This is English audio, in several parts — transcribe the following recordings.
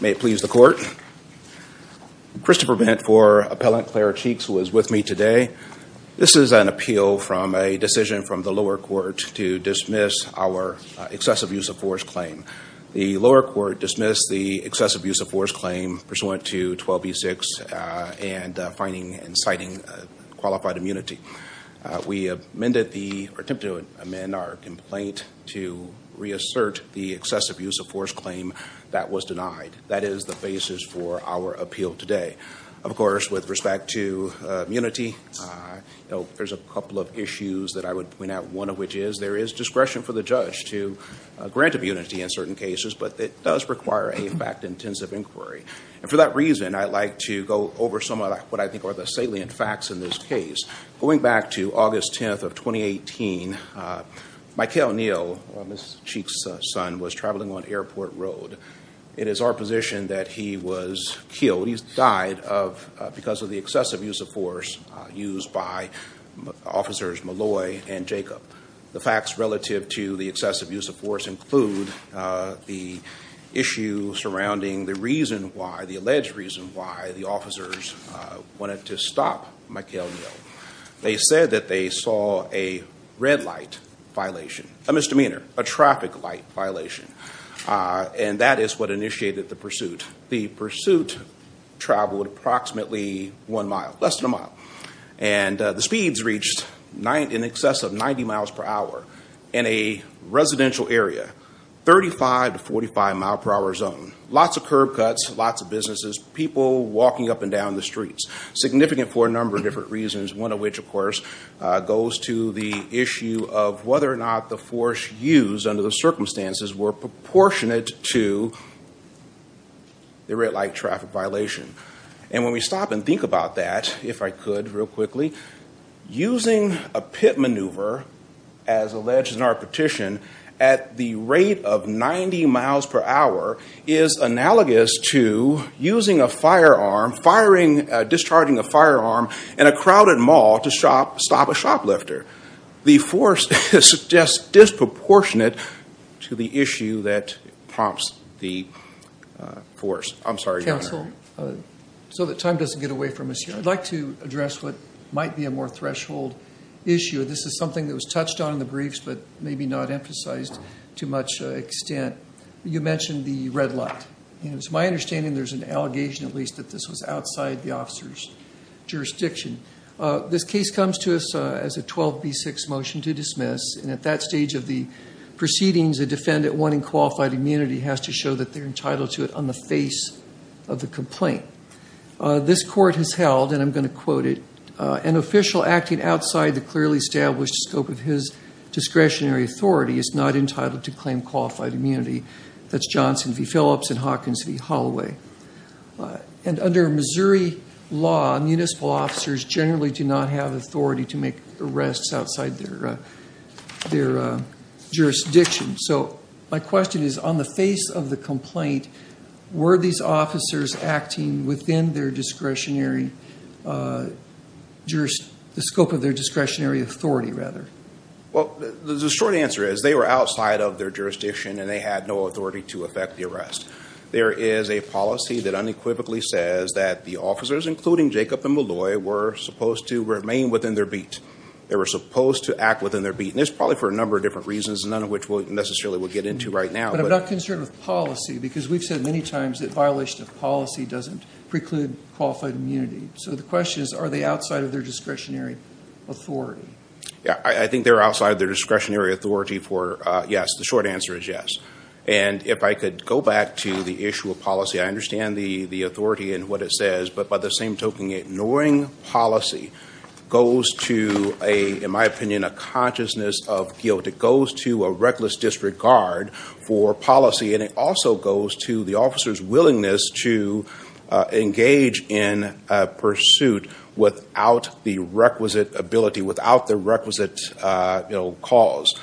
May it please the court. Christopher Bent for Appellant Claire Cheeks who is with me today. This is an appeal from a decision from the lower court to dismiss our excessive use of force claim. The lower court dismissed the excessive use of force claim pursuant to 12b-6 and finding and citing qualified immunity. We amended the attempt to amend our complaint to reassert the excessive use of force claim that was denied. That is the basis for our appeal today. Of course with respect to immunity, you know, there's a couple of issues that I would point out. One of which is there is discretion for the judge to grant immunity in certain cases but it does require a fact-intensive inquiry and for that reason I'd like to go over some of what I think are the salient facts in this case. Going back to August 10th of 2018, Mikel Neal, Ms. Cheeks' son, was traveling on Airport Road. It is our position that he was killed, he died, because of the excessive use of force used by officers Malloy and Jacob. The facts relative to the excessive use of force include the issue surrounding the reason why, the alleged reason why, the officers wanted to stop Mikel Neal. They said that they saw a red light violation, a misdemeanor, a traffic light violation, and that is what initiated the pursuit. The pursuit traveled approximately one mile, less than a mile, and the speeds reached in excess of 90 miles per hour in a residential area, 35 to 45 mile per hour zone. Lots of curb cuts, lots of businesses, people walking up and down the streets. Significant for a number of different reasons, one of which of course goes to the issue of whether or not the force used under the circumstances were proportionate to the red light traffic violation. And when we stop and think about that, if I could real quickly, using a pit maneuver, as alleged in our petition, at the rate of 90 miles per hour is analogous to using a firearm, firing, discharging a firearm in a crowded mall to stop a shoplifter. The force is just disproportionate to the issue that prompts the force. I'm sorry. Counsel, so that time doesn't get away from us here, I'd like to address what might be a more threshold issue. This is something that was touched on in the briefs but maybe not emphasized to much extent. You mentioned the red light. It's my understanding there's an allegation at least that this was outside the officer's jurisdiction. This case comes to us as a 12b6 motion to dismiss and at that stage of the proceedings, a defendant wanting qualified immunity has to show that they're entitled to it on the face of the complaint. This court has held, and I'm going to quote it, an official acting outside the clearly established scope of his discretionary authority is not entitled to claim Hawkinsville Hallway. And under Missouri law, municipal officers generally do not have authority to make arrests outside their jurisdiction. So my question is on the face of the complaint, were these officers acting within their discretionary, the scope of their discretionary authority rather? Well, the short answer is they were outside of their jurisdiction and they had no authority to effect the arrest. There is a policy that unequivocally says that the officers, including Jacob and Malloy, were supposed to remain within their beat. They were supposed to act within their beat. And it's probably for a number of different reasons, none of which we necessarily will get into right now. But I'm not concerned with policy because we've said many times that violation of policy doesn't preclude qualified immunity. So the question is, are they outside of their discretionary authority? Yeah, I think they're outside of their discretionary authority for, yes, the short answer is yes. And if I could go back to the issue of policy, I understand the authority and what it says, but by the same token, ignoring policy goes to, in my opinion, a consciousness of guilt. It goes to a reckless disregard for policy and it also goes to the officer's willingness to engage in pursuit without the requisite ability, without the requisite cause.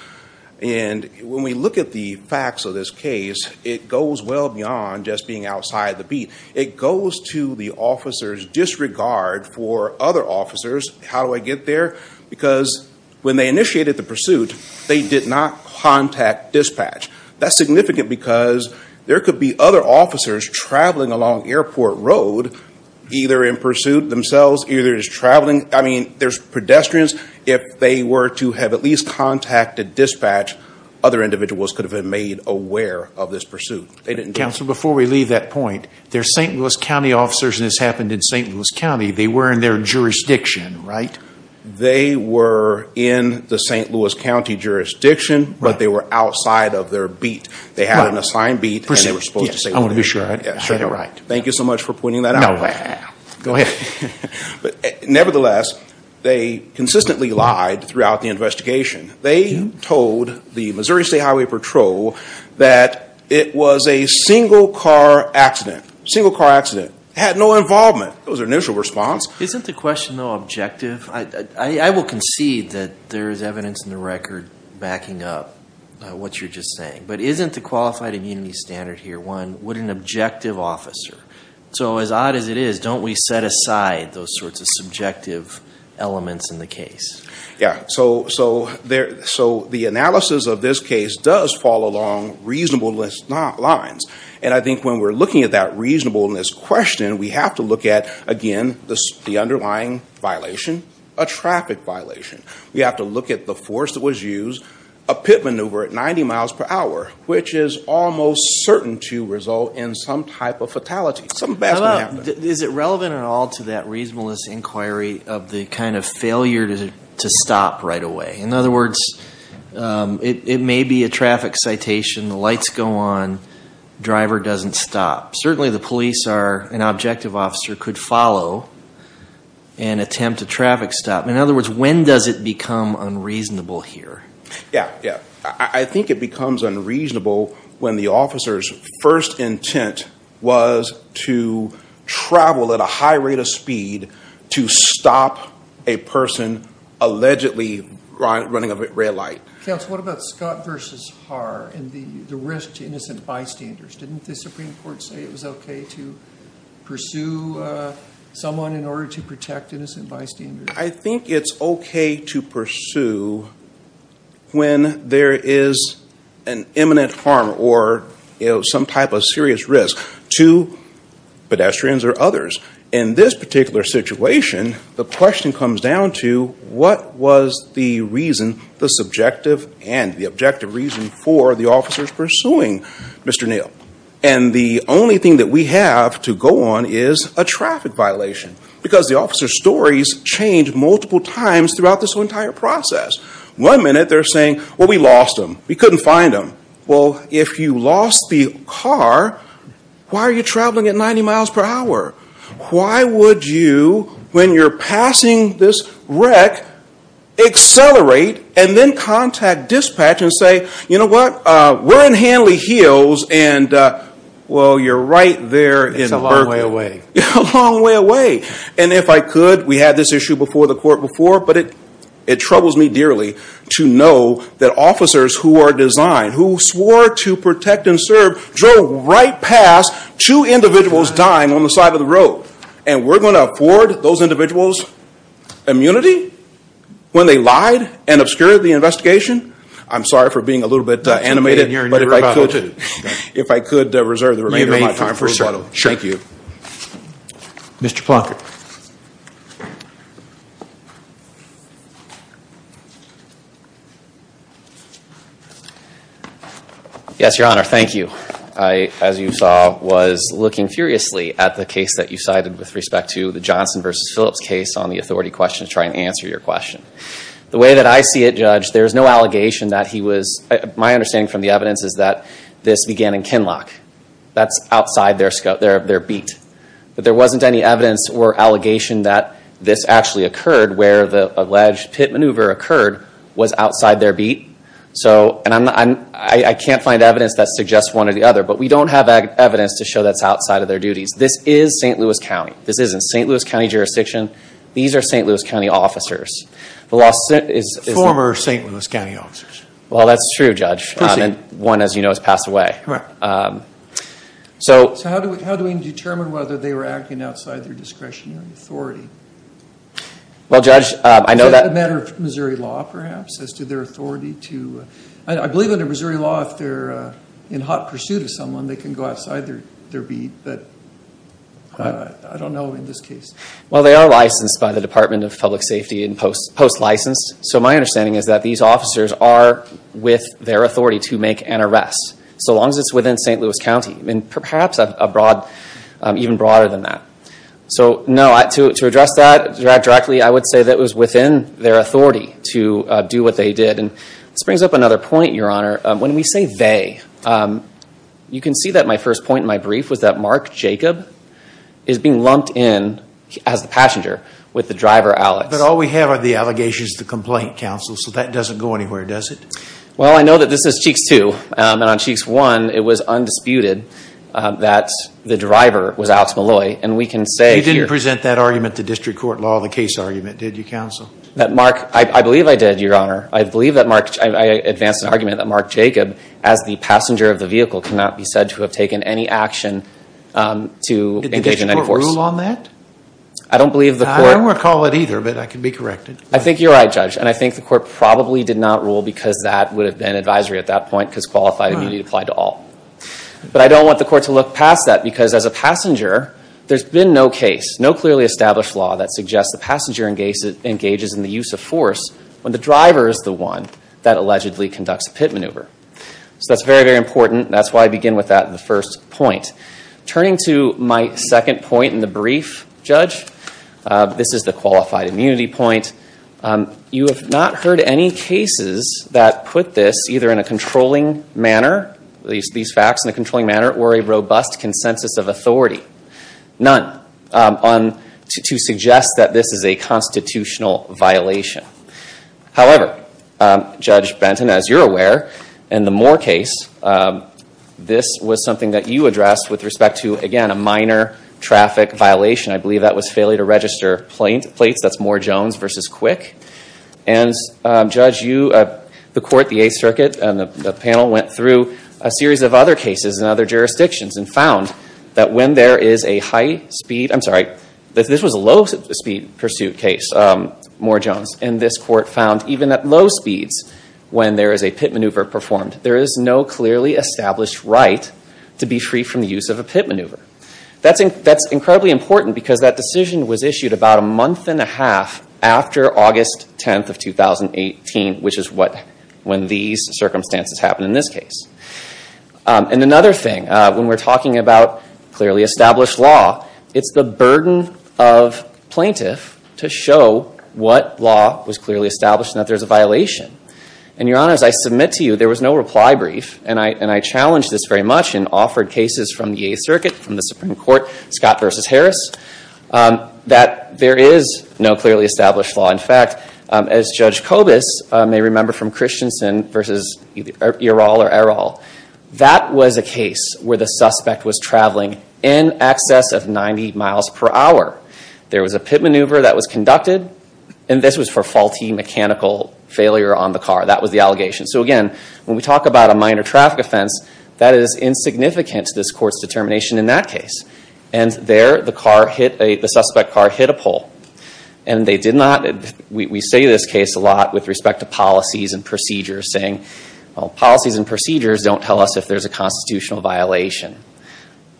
And when we look at the facts of this case, it goes well beyond just being outside the beat. It goes to the officer's disregard for other officers. How do I get there? Because when they initiated the pursuit, they did not contact dispatch. That's significant because there could be other officers traveling along Airport Road, either in pursuit themselves, either just traveling. I mean, there's pedestrians. If they were to have at least contacted dispatch, other individuals could have been made aware of this pursuit. They didn't. Counselor, before we leave that point, they're St. Louis County officers and this happened in St. Louis County. They were in their jurisdiction, right? They were in the St. Louis County jurisdiction, but they were outside of their beat. They had an assigned beat. Yes, I want to be sure I got it right. Thank you so much for pointing that out. Nevertheless, they consistently lied throughout the investigation. They told the Missouri State Highway Patrol that it was a single-car accident. Single-car accident. Had no involvement. It was their initial response. Isn't the question though objective? I will concede that there is evidence in the record backing up what you're just saying, but isn't the qualified immunity standard here one? What an objective officer. So as odd as it is, don't we set aside those sorts of subjective elements in the case? Yeah, so the analysis of this case does follow along reasonable lines, and I think when we're looking at that reasonableness question, we have to look at, again, the underlying violation, a traffic violation. We have to look at the force that was used, a pit maneuver at 90 miles an hour, and some type of fatality. Is it relevant at all to that reasonableness inquiry of the kind of failure to stop right away? In other words, it may be a traffic citation, the lights go on, driver doesn't stop. Certainly the police are an objective officer could follow and attempt a traffic stop. In other words, when does it become unreasonable here? Yeah, yeah. I think it becomes unreasonable when the officer's first intent was to travel at a high rate of speed to stop a person allegedly running a red light. Counsel, what about Scott versus Haar and the risk to innocent bystanders? Didn't the Supreme Court say it was okay to pursue someone in order to protect innocent bystanders? I think it's okay to pursue when there is an imminent harm or, you know, some type of serious risk to pedestrians or others. In this particular situation, the question comes down to what was the reason, the subjective and the objective reason, for the officers pursuing Mr. Neal? And the only thing that we have to go on is a traffic violation because the officer's stories change multiple times throughout this entire process. One minute they're saying, well, we lost him. We couldn't find him. Well, if you lost the car, why are you traveling at 90 miles per hour? Why would you, when you're passing this wreck, accelerate and then contact dispatch and say, you know what, we're in Hanley Hills and, well, you're right there in Berkeley. It's a long way away. A long way away. And if I could, we had this issue before the court before, but it troubles me dearly to know that officers who are designed, who swore to protect and serve, drove right past two individuals dying on the side of the road. And we're going to afford those individuals immunity when they lied and obscured the investigation? I'm sorry for being a little bit animated, but if I could, if I could reserve the remainder of my time for rebuttal. Thank you. Mr. Plunkett. Yes, Your Honor. Thank you. I, as you saw, was looking furiously at the case that you cited with respect to the Johnson versus Phillips case on the authority question to try and answer your question. The way that I see it, Judge, there's no allegation that he was, my understanding from the evidence is that this began in Kinloch. That's outside their scope, their beat. But there wasn't any evidence or allegation that this actually occurred where the alleged pit maneuver occurred was outside their beat. So, and I'm, I can't find evidence that suggests one or the other, but we don't have evidence to show that's outside of their duties. This is St. Louis County. This is in St. Louis County jurisdiction. These are St. Louis County officers. The law... Former St. Louis County officers. Well, that's true, Judge. One, as you know, has passed away. Right. So how do we determine whether they were acting outside their discretionary authority? Well, Judge, I know that... Is that a matter of Missouri law, perhaps, as to their authority to... I believe under Missouri law, if they're in hot pursuit of someone, they can go outside their beat. But I don't know in this case. Well, they are licensed by the Department of Public Safety and post-licensed. So my understanding is that these officers are with their authority to make an arrest. So long as it's within St. Louis County. I mean, perhaps a broad, even broader than that. So, no, to address that directly, I would say that it was within their authority to do what they did. And this brings up another point, Your Honor. When we say they, you can see that my first point in my brief was that Mark Jacob is being lumped in as the passenger with the driver, Alex. But all we have are the allegations to complaint, counsel. So that doesn't go anywhere, does it? Well, I know that this is Cheeks 2. And on Cheeks 1, it was undisputed that the driver was Alex Malloy. And we can say... You didn't present that argument to district court law, the case argument, did you, counsel? That Mark... I believe I did, Your Honor. I advance an argument that Mark Jacob, as the passenger of the vehicle, cannot be said to have taken any action to engage in any force. Did the district court rule on that? I don't believe the court... I don't recall it either, but I can be corrected. I think you're right, Judge. And I think the court probably did not rule because that would have been advisory at that point, because qualified immunity applied to all. But I don't want the court to look past that, because as a passenger, there's been no case, no clearly established law, that suggests the passenger engages in the use of force when the driver is the one that allegedly conducts a pit maneuver. So that's very, very important. That's why I begin with that in the first point. Turning to my second point in the brief, Judge, this is the qualified immunity point. You have not heard any cases that put this either in a controlling manner, these facts in a controlling manner, or a robust consensus of authority. None to suggest that this is a constitutional violation. However, Judge Benton, as you're aware, in the Moore case, this was something that you addressed with respect to, again, a minor traffic violation. I believe that was failure to register plates. That's Moore-Jones versus Quick. And Judge, you, the court, the Eighth Circuit, and the panel went through a series of other cases in other jurisdictions and found that when there is a pit maneuver performed, there is no clearly established right to be free from the use of a pit maneuver. That's incredibly important because that decision was issued about a month and a half after August 10th of 2018, which is when these circumstances happened in this case. And another thing, when we're talking about clearly established law, it's the burden of plaintiff to show what law was clearly established and that there's a violation. And, Your Honor, as I submit to you, there was no reply brief, and I challenged this very much and offered cases from the Eighth Circuit, from the Supreme Court, Scott versus Harris, that there is no clearly established law. In fact, as Judge Kobus may remember from Christensen versus either Earall or Errol, that was a case where the suspect was traveling in excess of 90 miles per hour. There was a pit maneuver that was conducted, and this was for faulty mechanical failure on the car. That was the allegation. So again, when we talk about a minor traffic offense, that is insignificant to this court's determination in that case. And there, the suspect car hit a pole. And they did not, we say this case a lot with respect to policies and procedures, saying policies and procedures don't tell us if there's a constitutional violation.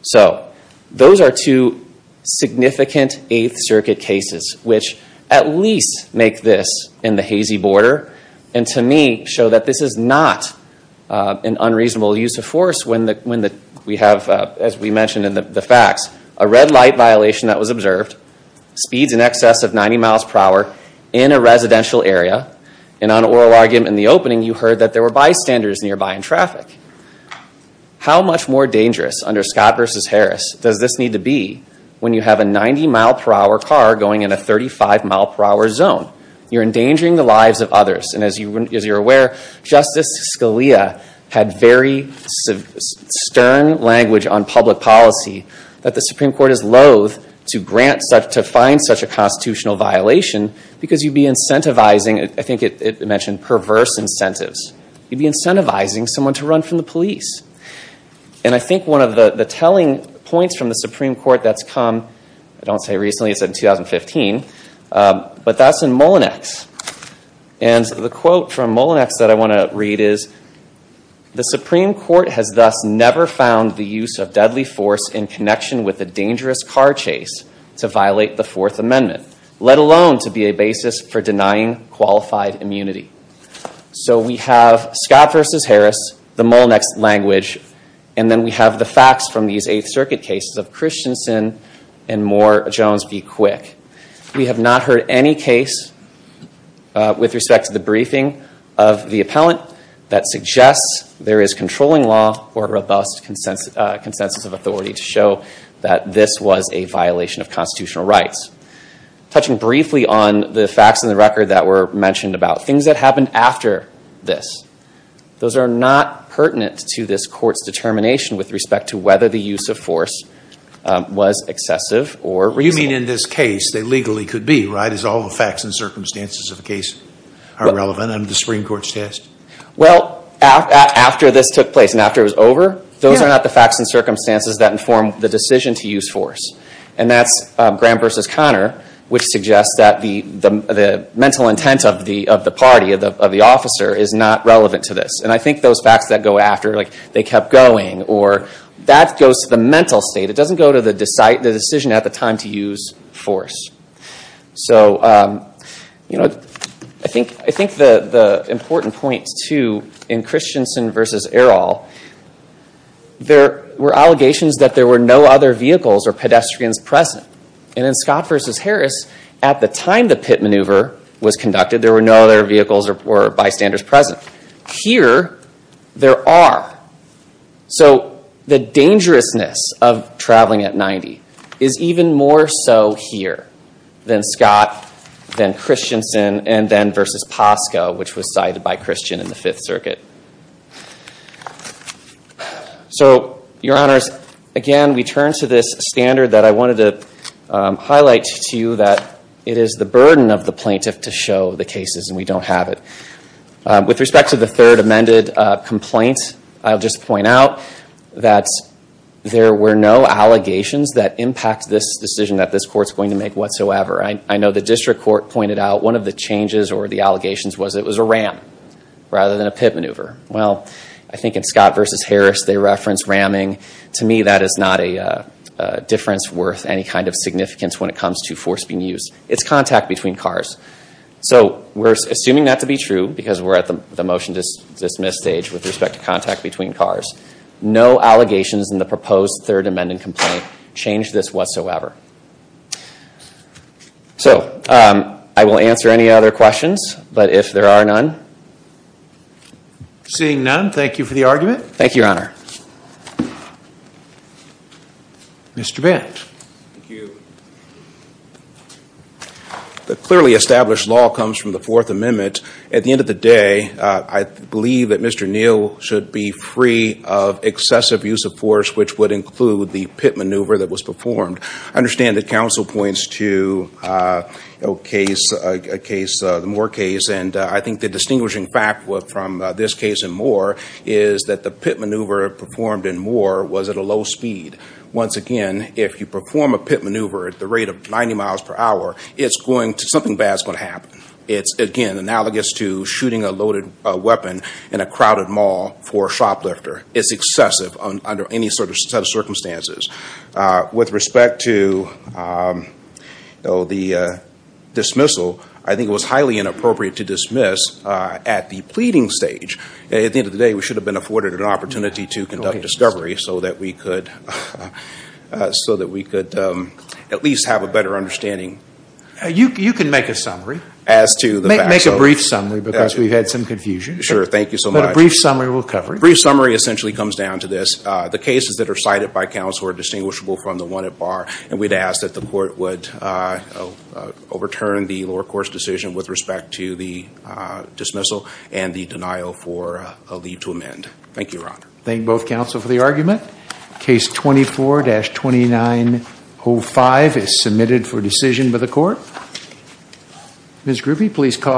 So those are two significant Eighth Circuit cases which at least make this in the hazy border, and to me show that this is not an unreasonable use of force when we have, as we mentioned in the facts, a red light violation that was observed, speeds in excess of 90 miles per hour in a residential area, and on oral argument in the opening, you heard that there were bystanders nearby in traffic. How much more dangerous under Scott v. Harris does this need to be when you have a 90 mile per hour car going in a 35 mile per hour zone? You're endangering the lives of others, and as you're aware, Justice Scalia had very stern language on public policy that the Supreme Court is loathe to grant such, to find such a constitutional violation, because you'd be incentivizing, I think it mentioned perverse incentives, you'd be incentivizing someone to run from the police. And I think one of the telling points from the Supreme Court that's come, I don't say recently, it's in 2015, but that's in Mullinex. And the quote from Mullinex that I want to read is, the Supreme Court has thus never found the use of deadly force in connection with a dangerous car chase to violate the Fourth Amendment, let alone to be a basis for denying qualified immunity. So we have Scott v. Harris, the facts from these Eighth Circuit cases of Christensen and Moore-Jones be quick. We have not heard any case with respect to the briefing of the appellant that suggests there is controlling law or robust consensus of authority to show that this was a violation of constitutional rights. Touching briefly on the facts in the record that were mentioned about things that happened after this, those are not pertinent to this court's determination with respect to whether the use of force was excessive or reasonable. You mean in this case they legally could be, right, as all the facts and circumstances of the case are relevant under the Supreme Court's test? Well, after this took place and after it was over, those are not the facts and circumstances that inform the decision to use force. And that's Graham v. Connor, which suggests that the mental intent of the party, of the officer, is not relevant to this. And I kept going, or that goes to the mental state. It doesn't go to the decision at the time to use force. So, you know, I think the important point, too, in Christensen v. Errol, there were allegations that there were no other vehicles or pedestrians present. And in Scott v. Harris, at the time the pit maneuver was conducted, there were no other vehicles or bystanders present. Here, there are. So the dangerousness of traveling at 90 is even more so here than Scott, then Christensen, and then versus Posco, which was cited by Christian in the Fifth Circuit. So, Your Honors, again we turn to this standard that I wanted to highlight to you that it is the burden of the plaintiff to show the don't have it. With respect to the third amended complaint, I'll just point out that there were no allegations that impact this decision that this Court's going to make whatsoever. I know the District Court pointed out one of the changes or the allegations was it was a ram rather than a pit maneuver. Well, I think in Scott v. Harris they reference ramming. To me, that is not a difference worth any kind of significance when it comes to force being used. It's contact between cars. So we're assuming that to be true because we're at the motion dismiss stage with respect to contact between cars. No allegations in the proposed third amended complaint change this whatsoever. So, I will answer any other questions, but if there are none. Seeing none, thank you for the argument. Thank you, Your Honor. Mr. Bent. The clearly established law comes from the Fourth Amendment. At the end of the day, I believe that Mr. Neal should be free of excessive use of force which would include the pit maneuver that was performed. I understand that counsel points to a case, the Moore case, and I think the distinguishing fact from this case and Moore is that the pit maneuver performed in Moore was at a low speed. Once again, if you perform a pit maneuver at the rate of 90 miles per hour, something bad is going to happen. It's again analogous to shooting a loaded weapon in a crowded mall for a shoplifter. It's excessive under any sort of circumstances. With respect to the dismissal, I think it was highly inappropriate to dismiss at the pleading stage. At the end of the day, we should have been afforded an opportunity to conduct discovery so that we could at least have a better understanding. You can make a summary. Make a brief summary because we've had some confusion. Sure, thank you so much. A brief summary will cover it. A brief summary essentially comes down to this. The cases that are cited by counsel are distinguishable from the one at bar and we'd ask that the court would overturn the lower court's decision with respect to the dismissal and the denial for a leave to amend. Thank you, Your Honor. Thank both counsel for the argument. Case 24-2905 is submitted for decision by the court. Ms. Gruffy, please call.